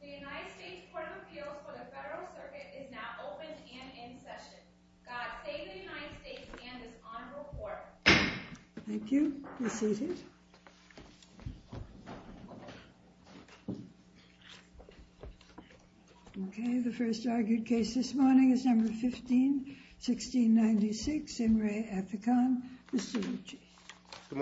The United States Court of Appeals for the Federal Circuit is now open and in session. God save the United States and this honorable court. Thank you. Be seated. Okay, the first argued case this morning is number 15-1696, Imre Afican. Mr. Lucci. The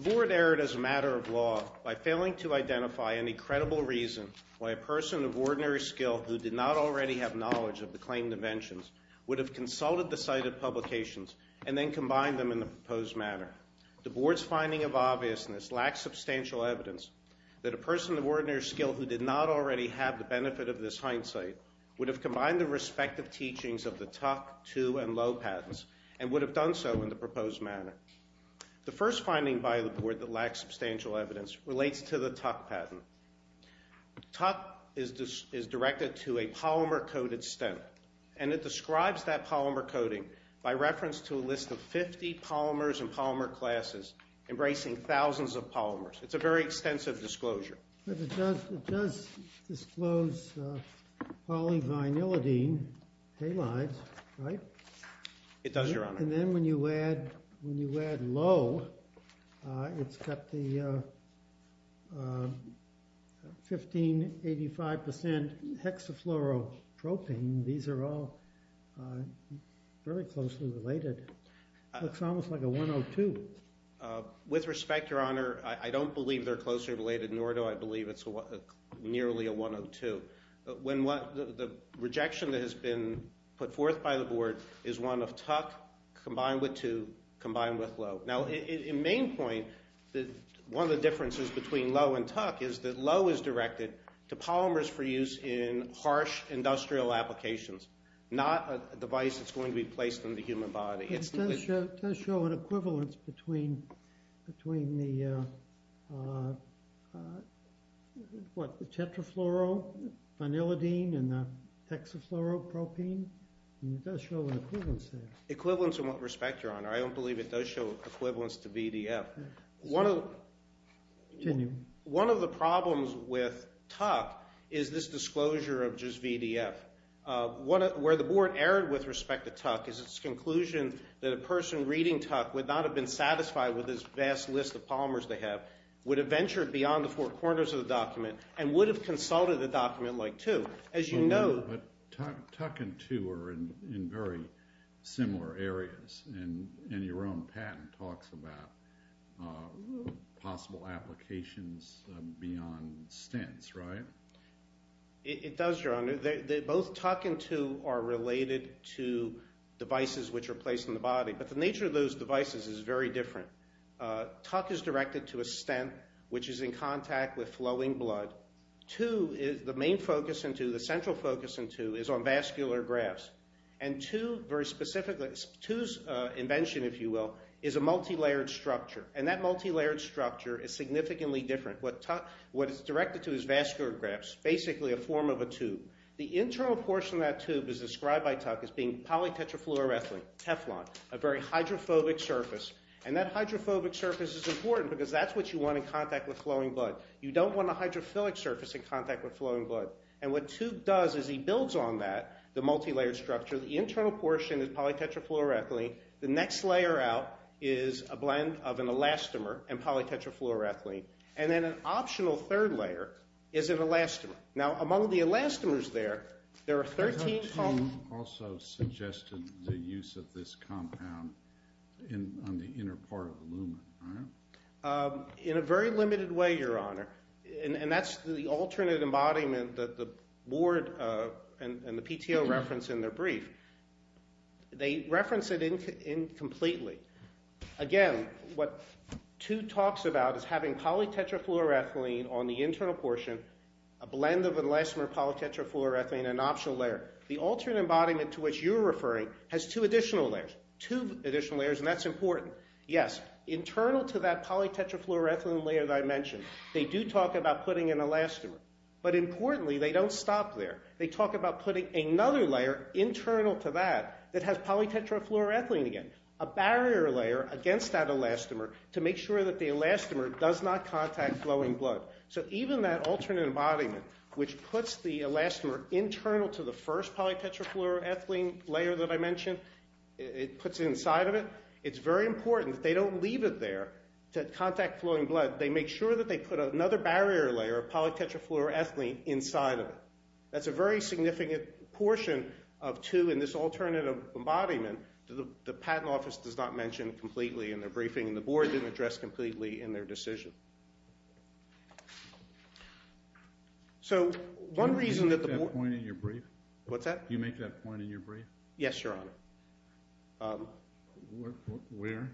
board erred as a matter of law by failing to identify any credible reason why a person of ordinary skill who did not already have knowledge of the claimed inventions would have consulted the cited publications and then combined them in the proposed manner. The board's finding of obviousness lacks substantial evidence that a person of ordinary skill who did not already have the benefit of this hindsight would have combined the respective teachings of the Tuck, Too, and Low patents and would have done so in the proposed manner. The first finding by the board that lacks substantial evidence relates to the Tuck patent. Tuck is directed to a polymer-coated stem and it describes that polymer coating by reference to a list of 50 polymers and polymer classes embracing thousands of polymers. It's a very extensive disclosure. But it does disclose polyvinylidene halides, right? It does, Your Honor. And then when you add low, it's got the 1585% hexafluoropropane. These are all very closely related. It looks almost like a 102. With respect, Your Honor, I don't believe they're closely related, nor do I believe it's nearly a 102. The rejection that has been put forth by the board is one of Tuck combined with Too combined with Low. Now, in main point, one of the differences between Low and Tuck is that Low is directed to polymers for use in harsh industrial applications, not a device that's going to be placed in the human body. It does show an equivalence between the tetrafluorofanilidene and the hexafluoropropane. It does show an equivalence there. Equivalence in what respect, Your Honor? I don't believe it does show equivalence to VDF. One of the problems with Tuck is this disclosure of just VDF. Where the board erred with respect to Tuck is its conclusion that a person reading Tuck would not have been satisfied with this vast list of polymers they have, would have ventured beyond the four corners of the document, and would have consulted a document like Too. But Tuck and Too are in very similar areas, and your own patent talks about possible applications beyond stents, right? It does, Your Honor. Both Tuck and Too are related to devices which are placed in the body, but the nature of those devices is very different. Tuck is directed to a stent, which is in contact with flowing blood. Too, the main focus in Too, the central focus in Too, is on vascular grafts. And Too, very specifically, Too's invention, if you will, is a multilayered structure, and that multilayered structure is significantly different. What is directed to is vascular grafts, basically a form of a tube. The internal portion of that tube is described by Tuck as being polytetrafluoroethylene, Teflon, a very hydrophobic surface. And that hydrophobic surface is important because that's what you want in contact with flowing blood. You don't want a hydrophilic surface in contact with flowing blood. And what Too does is he builds on that, the multilayered structure. The internal portion is polytetrafluoroethylene. The next layer out is a blend of an elastomer and polytetrafluoroethylene. And then an optional third layer is an elastomer. Now, among the elastomers there, there are 13 poly- You also suggested the use of this compound on the inner part of the lumen, right? In a very limited way, Your Honor. And that's the alternate embodiment that the board and the PTO reference in their brief. They reference it incompletely. Again, what Too talks about is having polytetrafluoroethylene on the internal portion, a blend of elastomer, polytetrafluoroethylene, and an optional layer. The alternate embodiment to which you're referring has two additional layers, two additional layers, and that's important. Yes, internal to that polytetrafluoroethylene layer that I mentioned, they do talk about putting an elastomer. But importantly, they don't stop there. They talk about putting another layer internal to that that has polytetrafluoroethylene again, a barrier layer against that elastomer to make sure that the elastomer does not contact flowing blood. So even that alternate embodiment which puts the elastomer internal to the first polytetrafluoroethylene layer that I mentioned, it puts it inside of it, it's very important that they don't leave it there to contact flowing blood. They make sure that they put another barrier layer of polytetrafluoroethylene inside of it. That's a very significant portion of two in this alternative embodiment that the patent office does not mention completely in their briefing and the board didn't address completely in their decision. So one reason that the board – Can you make that point in your brief? What's that? Can you make that point in your brief? Yes, Your Honor. Where?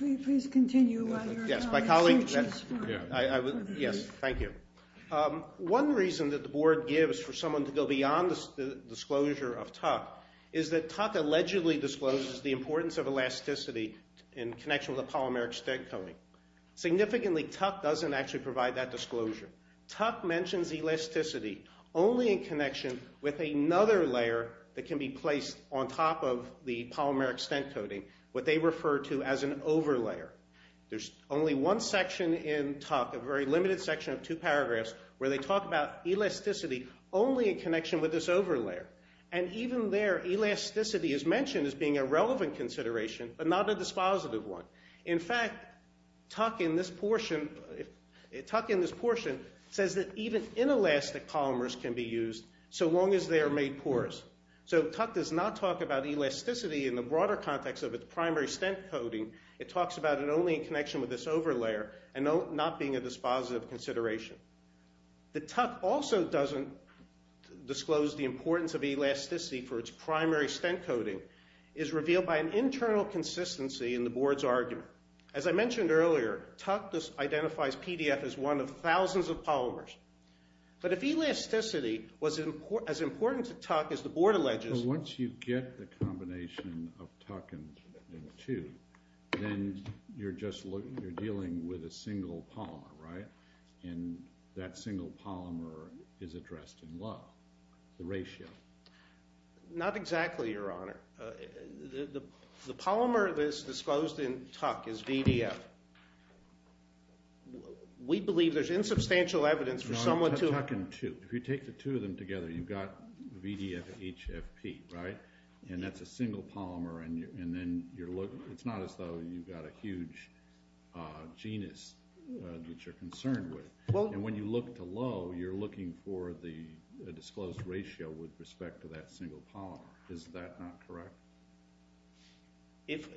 Here. Please continue while your colleague searches for it. Yes, thank you. One reason that the board gives for someone to go beyond the disclosure of Tuck is that Tuck allegedly discloses the importance of elasticity in connection with a polymeric stent coating. Significantly, Tuck doesn't actually provide that disclosure. Tuck mentions elasticity only in connection with another layer that can be placed on top of the polymeric stent coating, what they refer to as an over layer. There's only one section in Tuck, a very limited section of two paragraphs, where they talk about elasticity only in connection with this over layer. And even there, elasticity is mentioned as being a relevant consideration but not a dispositive one. In fact, Tuck in this portion says that even inelastic polymers can be used so long as they are made porous. So Tuck does not talk about elasticity in the broader context of its primary stent coating. It talks about it only in connection with this over layer and not being a dispositive consideration. That Tuck also doesn't disclose the importance of elasticity for its primary stent coating is revealed by an internal consistency in the board's argument. As I mentioned earlier, Tuck identifies PDF as one of thousands of polymers. But if elasticity was as important to Tuck as the board alleges- But once you get the combination of Tuck and two, then you're dealing with a single polymer, right? And that single polymer is addressed in love, the ratio. Not exactly, Your Honor. The polymer that is disclosed in Tuck is VDF. We believe there's insubstantial evidence for someone to- Tuck and two. If you take the two of them together, you've got VDF HFP, right? And that's a single polymer and then you're looking- It's not as though you've got a huge genus that you're concerned with. And when you look to Lowe, you're looking for the disclosed ratio with respect to that single polymer. Is that not correct? If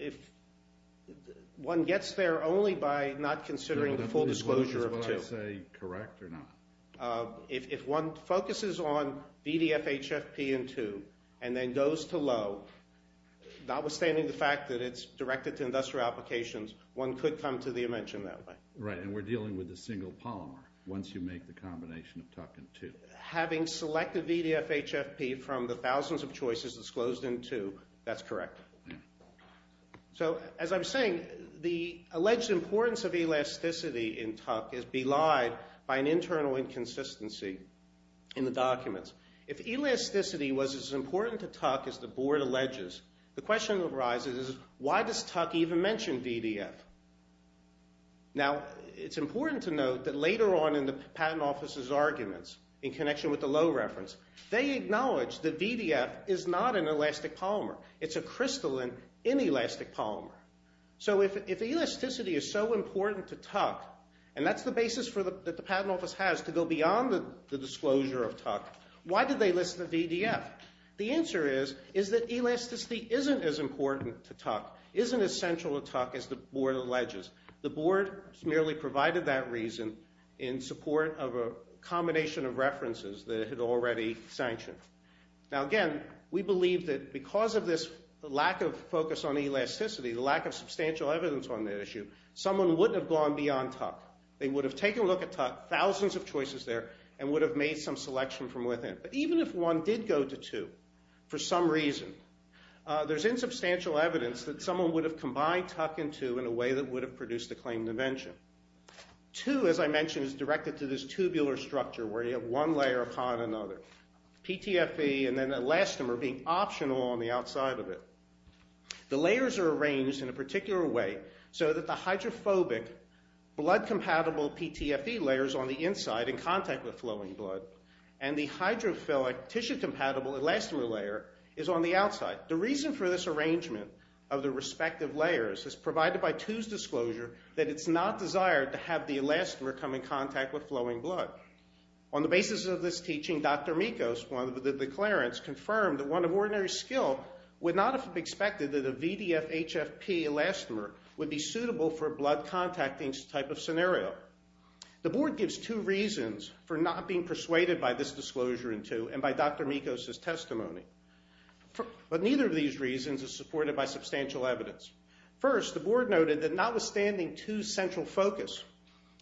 one gets there only by not considering the full disclosure of two- Is what I say correct or not? If one focuses on VDF HFP and two and then goes to Lowe, notwithstanding the fact that it's directed to industrial applications, one could come to the invention that way. Right, and we're dealing with a single polymer once you make the combination of Tuck and two. Having selected VDF HFP from the thousands of choices disclosed in two, that's correct. So, as I was saying, the alleged importance of elasticity in Tuck is belied by an internal inconsistency in the documents. If elasticity was as important to Tuck as the board alleges, the question that arises is, why does Tuck even mention VDF? Now, it's important to note that later on in the patent office's arguments, in connection with the Lowe reference, they acknowledge that VDF is not an elastic polymer. It's a crystalline inelastic polymer. So if elasticity is so important to Tuck, and that's the basis that the patent office has to go beyond the disclosure of Tuck, why did they list the VDF? The answer is that elasticity isn't as important to Tuck, isn't as central to Tuck as the board alleges. The board merely provided that reason in support of a combination of references that it had already sanctioned. Now, again, we believe that because of this lack of focus on elasticity, the lack of substantial evidence on that issue, someone wouldn't have gone beyond Tuck. They would have taken a look at Tuck, thousands of choices there, and would have made some selection from within. But even if one did go to two, for some reason, there's insubstantial evidence that someone would have combined Tuck and two in a way that would have produced the claimed invention. Two, as I mentioned, is directed to this tubular structure where you have one layer upon another, PTFE and then elastomer being optional on the outside of it. The layers are arranged in a particular way so that the hydrophobic, blood-compatible PTFE layers on the inside in contact with flowing blood and the hydrophilic, tissue-compatible elastomer layer is on the outside. The reason for this arrangement of the respective layers is provided by two's disclosure that it's not desired to have the elastomer come in contact with flowing blood. On the basis of this teaching, Dr. Mikos, one of the declarants, confirmed that one of ordinary skill would not have expected that a VDF-HFP elastomer would be suitable for a blood contacting type of scenario. The board gives two reasons for not being persuaded by this disclosure in two and by Dr. Mikos' testimony. But neither of these reasons is supported by substantial evidence. First, the board noted that notwithstanding two's central focus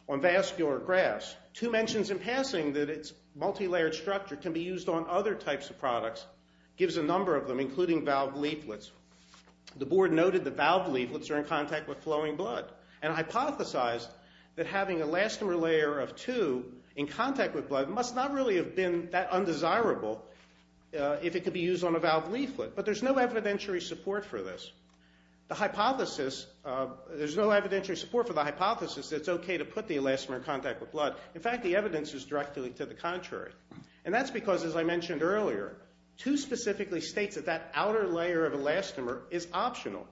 on vascular grass, two mentions in passing that its multilayered structure can be used on other types of products gives a number of them, including valve leaflets. The board noted that valve leaflets are in contact with flowing blood and hypothesized that having an elastomer layer of two in contact with blood must not really have been that undesirable if it could be used on a valve leaflet. But there's no evidentiary support for this. There's no evidentiary support for the hypothesis that it's okay to put the elastomer in contact with blood. In fact, the evidence is directly to the contrary. And that's because, as I mentioned earlier, two specifically states that that outer layer of elastomer is optional.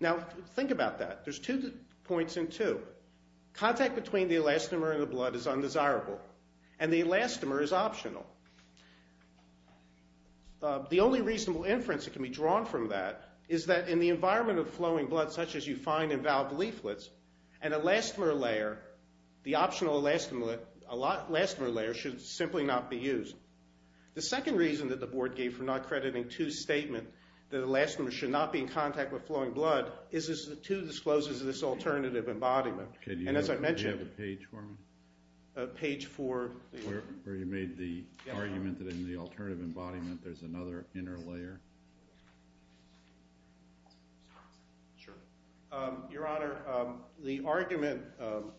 Now, think about that. There's two points in two. Contact between the elastomer and the blood is undesirable, and the elastomer is optional. The only reasonable inference that can be drawn from that is that in the environment of flowing blood, such as you find in valve leaflets, an elastomer layer, the optional elastomer layer, should simply not be used. The second reason that the board gave for not crediting two's statement that elastomer should not be in contact with flowing blood is that two discloses this alternative embodiment. And as I mentioned... Do you have a page for me? Page 4. Where you made the argument that in the alternative embodiment there's another inner layer? Sure. Your Honor, the argument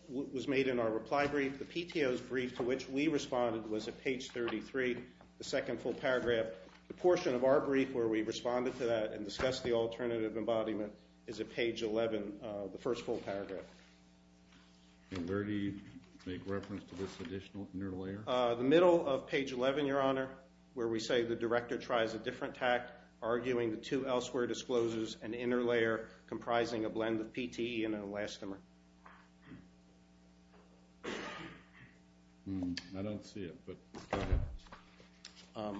was made in our reply brief. The PTO's brief to which we responded was at page 33, the second full paragraph. The portion of our brief where we responded to that and discussed the alternative embodiment is at page 11, the first full paragraph. And where do you make reference to this additional inner layer? The middle of page 11, Your Honor, where we say the director tries a different tact, arguing that two elsewhere discloses an inner layer comprising a blend of PTE and elastomer. I don't see it, but go ahead.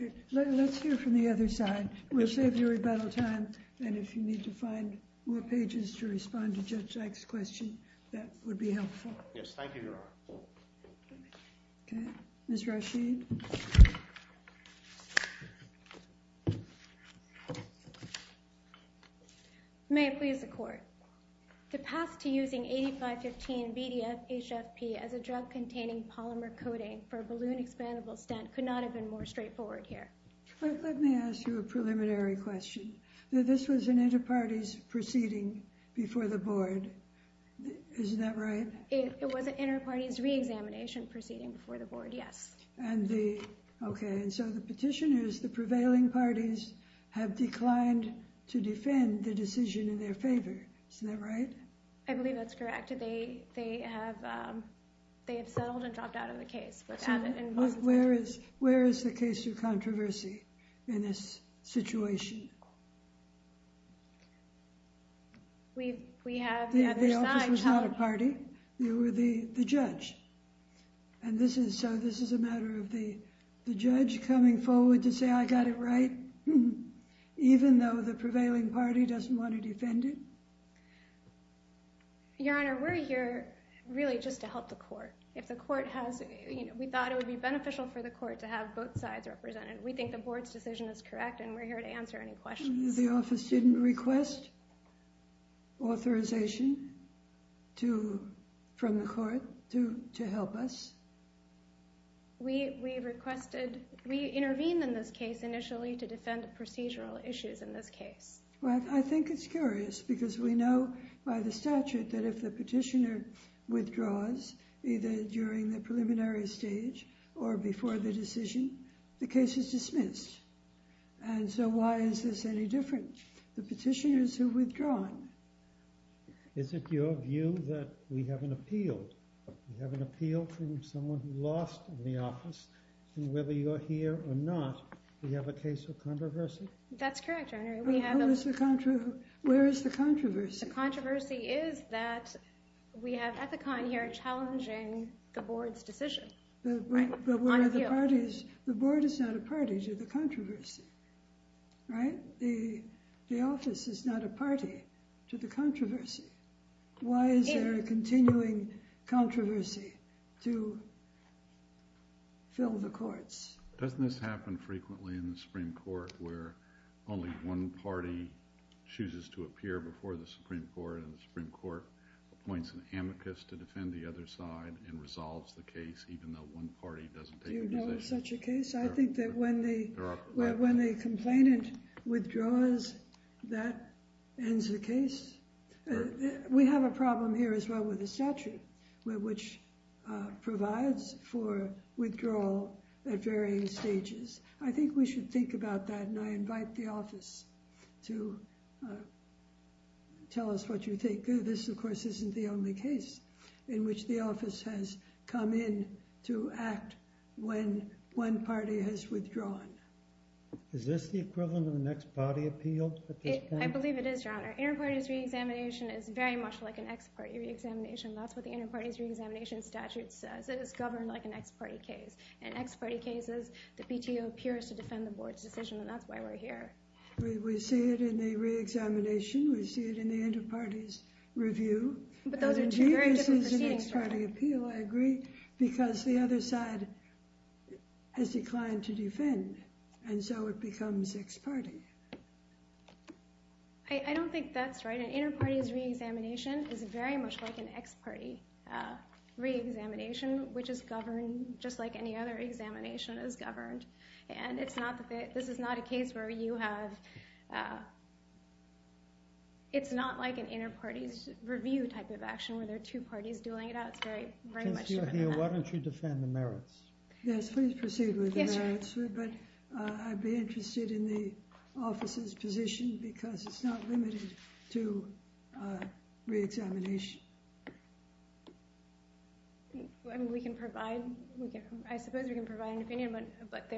Okay. Let's hear from the other side. We'll save your rebuttal time, and if you need to find more pages to respond to Judge Dyke's question, that would be helpful. Yes, thank you, Your Honor. Okay. Ms. Rasheed. May it please the Court. To pass to using 8515-BDF-HFP as a drug-containing polymer coating for a balloon expandable stent could not have been more straightforward here. Let me ask you a preliminary question. This was an inter-parties proceeding before the Board. Isn't that right? It was an inter-parties re-examination proceeding before the Board, yes. Okay. And so the petitioners, the prevailing parties, have declined to defend the decision in their favor. Isn't that right? I believe that's correct. They have settled and dropped out of the case. Where is the case of controversy in this situation? The office was not a party. You were the judge, and so this is a matter of the judge coming forward to say, I got it right, even though the prevailing party doesn't want to defend it? Your Honor, we're here really just to help the Court. We thought it would be beneficial for the Court to have both sides represented. We think the Board's decision is correct, and we're here to answer any questions. The office didn't request authorization from the Court to help us? We intervened in this case initially to defend the procedural issues in this case. Well, I think it's curious, because we know by the statute that if the petitioner withdraws, either during the preliminary stage or before the decision, the case is dismissed. And so why is this any different? The petitioners who withdraw. Is it your view that we have an appeal? We have an appeal from someone who lost in the office, and whether you're here or not, we have a case of controversy? That's correct, Your Honor. Where is the controversy? The controversy is that we have Ethicon here challenging the Board's decision. But the Board is not a party to the controversy, right? The office is not a party to the controversy. Why is there a continuing controversy to fill the courts? Doesn't this happen frequently in the Supreme Court, where only one party chooses to appear before the Supreme Court, and the Supreme Court appoints an amicus to defend the other side and resolves the case, even though one party doesn't take the decision? Do you know of such a case? I think that when the complainant withdraws, that ends the case. We have a problem here as well with the statute, which provides for withdrawal at varying stages. I think we should think about that, and I invite the office to tell us what you think. This, of course, isn't the only case in which the office has come in to act when one party has withdrawn. Is this the equivalent of an ex-party appeal? I believe it is, Your Honor. Inter-parties re-examination is very much like an ex-party re-examination. That's what the inter-parties re-examination statute says. It is governed like an ex-party case. In ex-party cases, the PTO appears to defend the board's decision, and that's why we're here. We see it in the re-examination. We see it in the inter-parties review. But those are two very different proceedings, Your Honor. I agree, because the other side has declined to defend, and so it becomes ex-party. I don't think that's right. Inter-parties re-examination is very much like an ex-party re-examination, which is governed just like any other examination is governed, and this is not a case where you have – it's not like an inter-parties review type of action where there are two parties dueling it out. It's very much different than that. Why don't you defend the merits? Yes, please proceed with the merits, but I'd be interested in the office's position because it's not limited to re-examination. We can provide – I suppose we can provide an opinion, but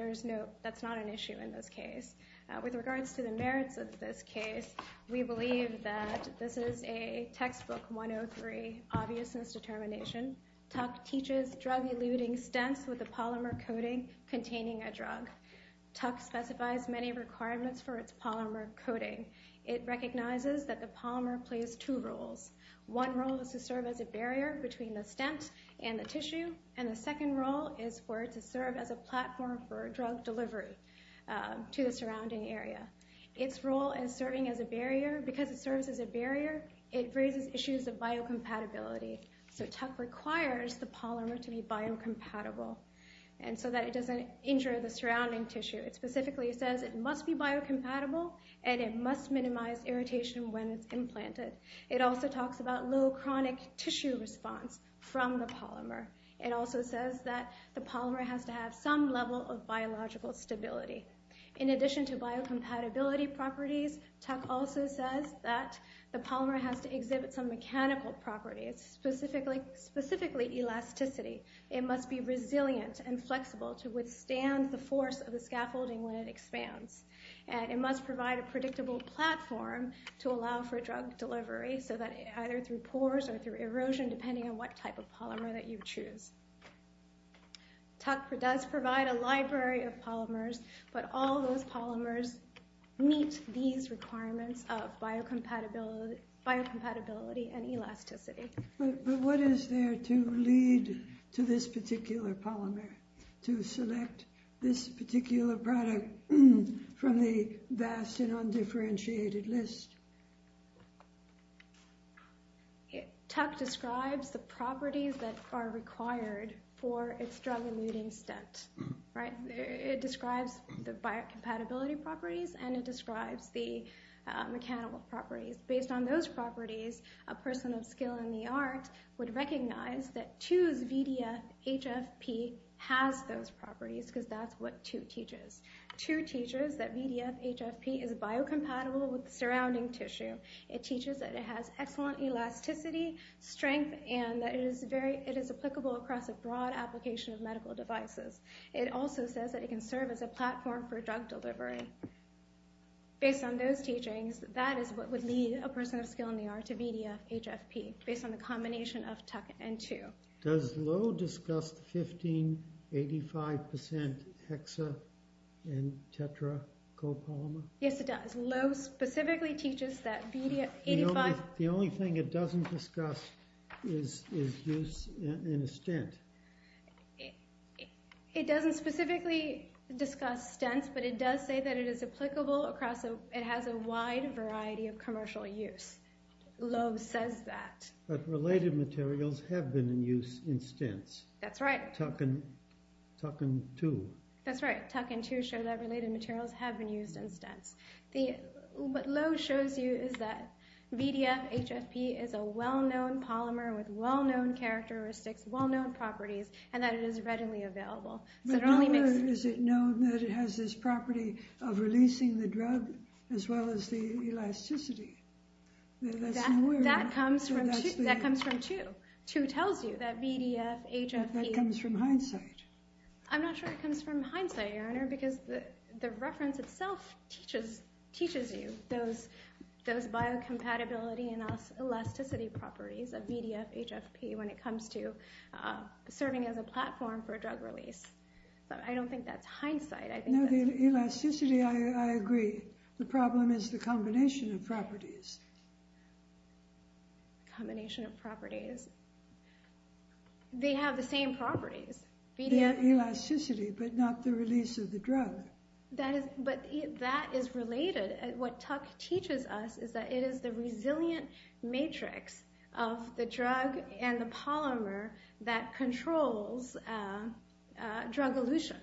that's not an issue in this case. With regards to the merits of this case, we believe that this is a textbook 103 obviousness determination. Tuck teaches drug-eluting stents with a polymer coating containing a drug. Tuck specifies many requirements for its polymer coating. It recognizes that the polymer plays two roles. One role is to serve as a barrier between the stent and the tissue, and the second role is for it to serve as a platform for drug delivery to the surrounding area. Its role in serving as a barrier, because it serves as a barrier, it raises issues of biocompatibility. So Tuck requires the polymer to be biocompatible so that it doesn't injure the surrounding tissue. It specifically says it must be biocompatible and it must minimize irritation when it's implanted. It also talks about low chronic tissue response from the polymer. It also says that the polymer has to have some level of biological stability. In addition to biocompatibility properties, Tuck also says that the polymer has to exhibit some mechanical properties, specifically elasticity. It must be resilient and flexible to withstand the force of the scaffolding when it expands. And it must provide a predictable platform to allow for drug delivery, either through pores or through erosion, depending on what type of polymer that you choose. Tuck does provide a library of polymers, but all those polymers meet these requirements of biocompatibility and elasticity. But what is there to lead to this particular polymer, to select this particular product from the vast and undifferentiated list? Tuck describes the properties that are required for its drug-eluting stent. It describes the biocompatibility properties and it describes the mechanical properties. Based on those properties, a person of skill in the art would recognize that 2's VDF-HFP has those properties, because that's what 2 teaches. 2 teaches that VDF-HFP is biocompatible with the surrounding tissue. It teaches that it has excellent elasticity, strength, and that it is applicable across a broad application of medical devices. It also says that it can serve as a platform for drug delivery. Based on those teachings, that is what would lead a person of skill in the art to VDF-HFP, based on the combination of Tuck and 2. Does Lowe discuss the 15-85% hexa- and tetra-copolymer? Yes, it does. Lowe specifically teaches that VDF-85... The only thing it doesn't discuss is use in a stent. It doesn't specifically discuss stents, but it does say that it has a wide variety of commercial use. Lowe says that. But related materials have been in use in stents. That's right. Tuck and 2. That's right. Tuck and 2 show that related materials have been used in stents. What Lowe shows you is that VDF-HFP is a well-known polymer with well-known characteristics, well-known properties, and that it is readily available. But how is it known that it has this property of releasing the drug as well as the elasticity? That comes from 2. 2 tells you that VDF-HFP... But that comes from hindsight. I'm not sure it comes from hindsight, Your Honor, because the reference itself teaches you those biocompatibility and elasticity properties of VDF-HFP when it comes to serving as a platform for drug release. But I don't think that's hindsight. No, the elasticity, I agree. The problem is the combination of properties. Combination of properties. They have the same properties. The elasticity, but not the release of the drug. But that is related. What Tuck teaches us is that it is the resilient matrix of the drug and the polymer that controls drug elution.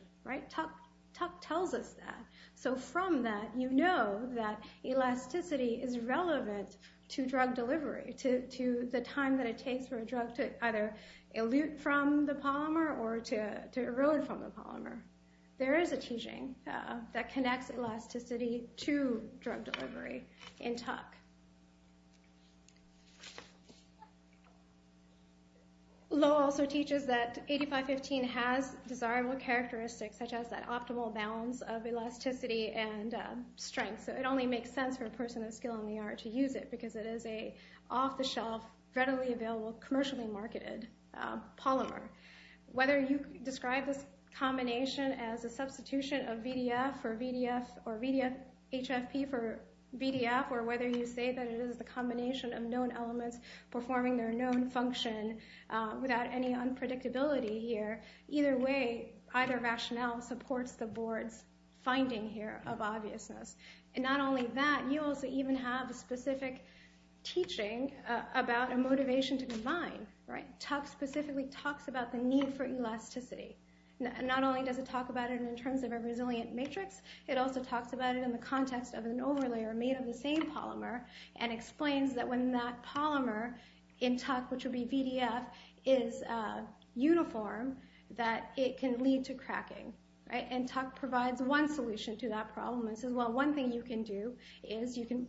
Tuck tells us that. So from that, you know that elasticity is relevant to drug delivery, to the time that it takes for a drug to either elute from the polymer or to erode from the polymer. There is a teaching that connects elasticity to drug delivery in Tuck. Lowe also teaches that 8515 has desirable characteristics such as that optimal balance of elasticity and strength. So it only makes sense for a person of skill in the art to use it because it is an off-the-shelf, readily available, commercially marketed polymer. Whether you describe this combination as a substitution of VDF or VDF-HFP for VDF or whether you say that it is the combination of known elements performing their known function without any unpredictability here, either way, either rationale supports the board's finding here of obviousness. And not only that, you also even have a specific teaching about a motivation to combine. Tuck specifically talks about the need for elasticity. Not only does it talk about it in terms of a resilient matrix, it also talks about it in the context of an overlayer made of the same polymer and explains that when that polymer in Tuck, which would be VDF, is uniform, that it can lead to cracking. And Tuck provides one solution to that problem and says, well, one thing you can do is you can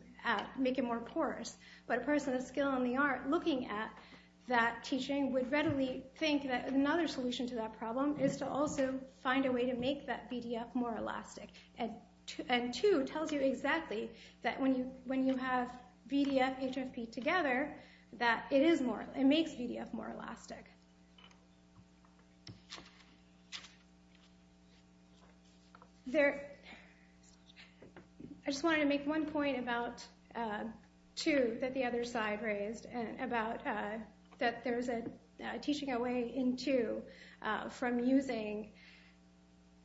make it more porous. But a person of skill in the art looking at that teaching would readily think that another solution to that problem is to also find a way to make that VDF more elastic. And two tells you exactly that when you have VDF-HFP together, that it is more, it makes VDF more elastic. I just wanted to make one point about two that the other side raised that there's a teaching away in two from using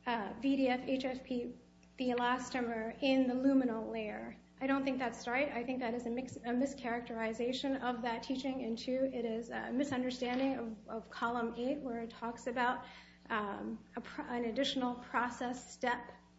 VDF-HFP, the elastomer, in the luminal layer. I don't think that's right. I think that is a mischaracterization of that teaching in two. It is a misunderstanding of column eight where it talks about an additional process step,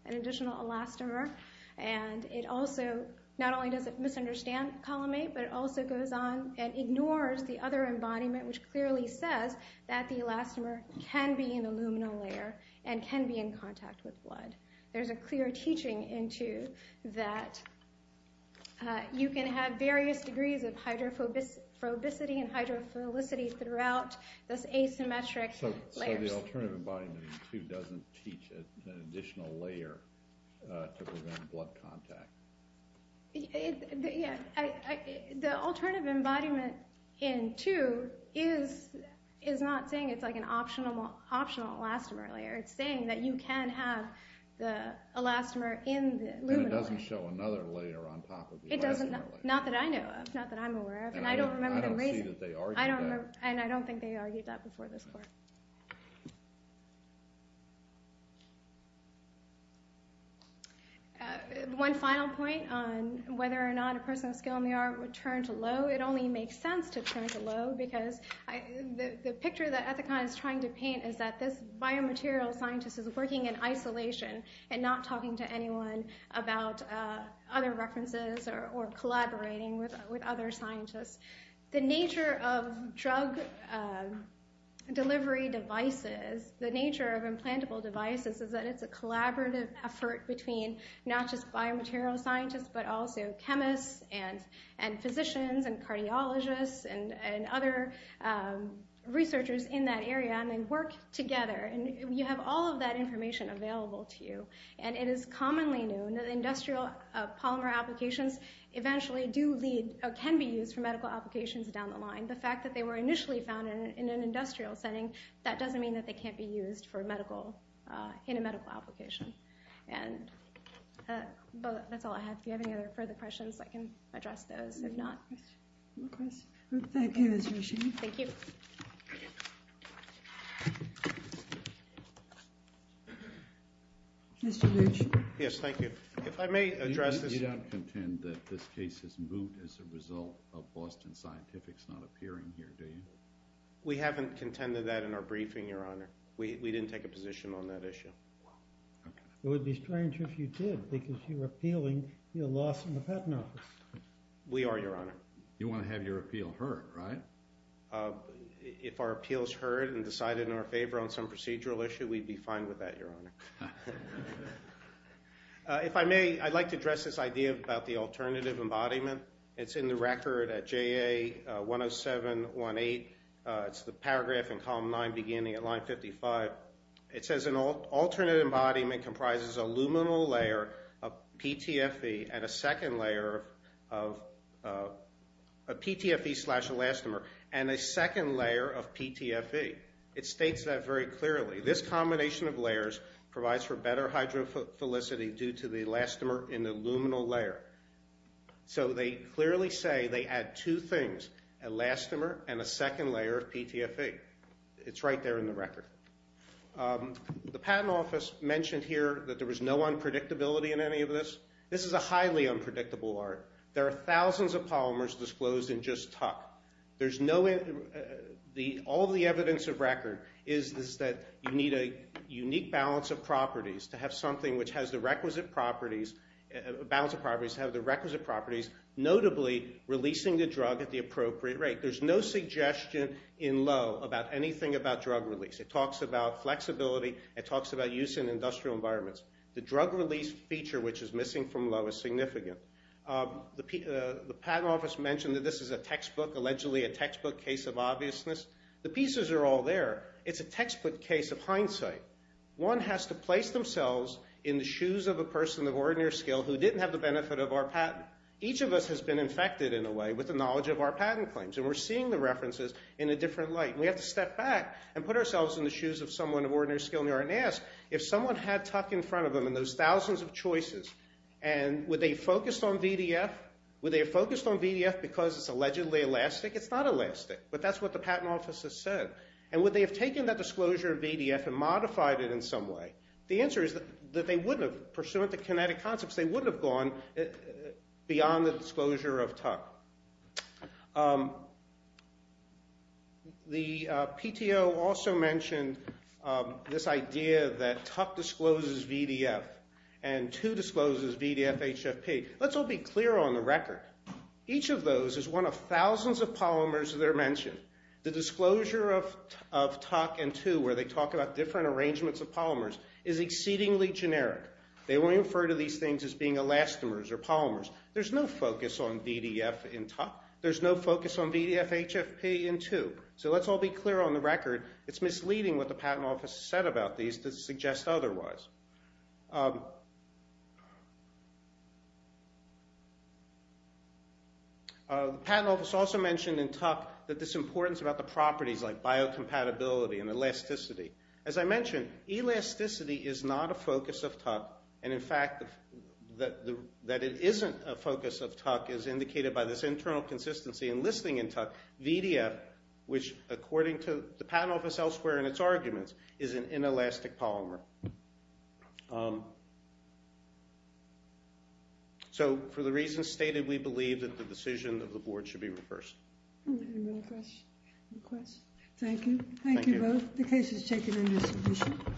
an additional elastomer. And it also not only does it misunderstand column eight, but it also goes on and ignores the other embodiment, which clearly says that the elastomer can be in the luminal layer and can be in contact with blood. There's a clear teaching in two that you can have various degrees of hydrophobicity and hydrophilicity throughout this asymmetric layers. So the alternative embodiment in two doesn't teach an additional layer to prevent blood contact. The alternative embodiment in two is not saying it's like an optional elastomer layer. It's saying that you can have the elastomer in the luminal layer. And it doesn't show another layer on top of the elastomer layer. Not that I know of. Not that I'm aware of. And I don't remember the reason. I don't see that they argued that. And I don't think they argued that before this court. One final point on whether or not a person with a skill in the art would turn to Lowe. It only makes sense to turn to Lowe because the picture that Ethicon is trying to paint is that this biomaterial scientist is working in isolation and not talking to anyone about other references or collaborating with other scientists. The nature of drug delivery devices, the nature of implantable devices, is that it's a collaborative effort between not just biomaterial scientists, but also chemists and physicians and cardiologists and other researchers in that area. And they work together. And you have all of that information available to you. And it is commonly known that industrial polymer applications eventually do lead or can be used for medical applications down the line. The fact that they were initially found in an industrial setting, that doesn't mean that they can't be used in a medical application. And that's all I have. If you have any further questions, I can address those. If not, no questions. Thank you. Thank you. Thank you. Mr. Luce. Yes, thank you. If I may address this. You don't contend that this case is moot as a result of Boston Scientific's not appearing here, do you? We haven't contended that in our briefing, Your Honor. We didn't take a position on that issue. It would be strange if you did because you're appealing your loss in the patent office. We are, Your Honor. You want to have your appeal heard, right? If our appeal is heard and decided in our favor on some procedural issue, we'd be fine with that, Your Honor. If I may, I'd like to address this idea about the alternative embodiment. It's in the record at JA 10718. It's the paragraph in column 9 beginning at line 55. It says an alternate embodiment comprises a luminal layer of PTFE and a second layer of PTFE slash elastomer and a second layer of PTFE. It states that very clearly. This combination of layers provides for better hydrophilicity due to the elastomer in the luminal layer. So they clearly say they add two things, elastomer and a second layer of PTFE. It's right there in the record. The patent office mentioned here that there was no unpredictability in any of this. This is a highly unpredictable art. There are thousands of polymers disclosed in just Tuck. All the evidence of record is that you need a unique balance of properties to have something which has the requisite properties, a balance of properties to have the requisite properties, notably releasing the drug at the appropriate rate. There's no suggestion in Lowe about anything about drug release. It talks about flexibility. It talks about use in industrial environments. The drug release feature, which is missing from Lowe, is significant. The patent office mentioned that this is a textbook, allegedly a textbook case of obviousness. The pieces are all there. It's a textbook case of hindsight. One has to place themselves in the shoes of a person of ordinary skill who didn't have the benefit of our patent. Each of us has been infected in a way with the knowledge of our patent claims, and we're seeing the references in a different light. We have to step back and put ourselves in the shoes of someone of ordinary skill and ask, if someone had Tuck in front of them and those thousands of choices, and would they have focused on VDF? Would they have focused on VDF because it's allegedly elastic? It's not elastic, but that's what the patent office has said. And would they have taken that disclosure of VDF and modified it in some way? The answer is that they wouldn't have. Pursuant to kinetic concepts, they wouldn't have gone beyond the disclosure of Tuck. The PTO also mentioned this idea that Tuck discloses VDF and 2 discloses VDF-HFP. Let's all be clear on the record. Each of those is one of thousands of polymers that are mentioned. The disclosure of Tuck and 2, where they talk about different arrangements of polymers, is exceedingly generic. They only refer to these things as being elastomers or polymers. There's no focus on VDF in Tuck. There's no focus on VDF-HFP in 2. So let's all be clear on the record. It's misleading what the patent office has said about these to suggest otherwise. The patent office also mentioned in Tuck that this importance about the properties like biocompatibility and elasticity. As I mentioned, elasticity is not a focus of Tuck. And, in fact, that it isn't a focus of Tuck is indicated by this internal consistency in listing in Tuck. VDF, which, according to the patent office elsewhere in its arguments, is an inelastic polymer. So, for the reasons stated, we believe that the decision of the board should be reversed. Any other questions? Thank you. Thank you both. The case is taken into submission.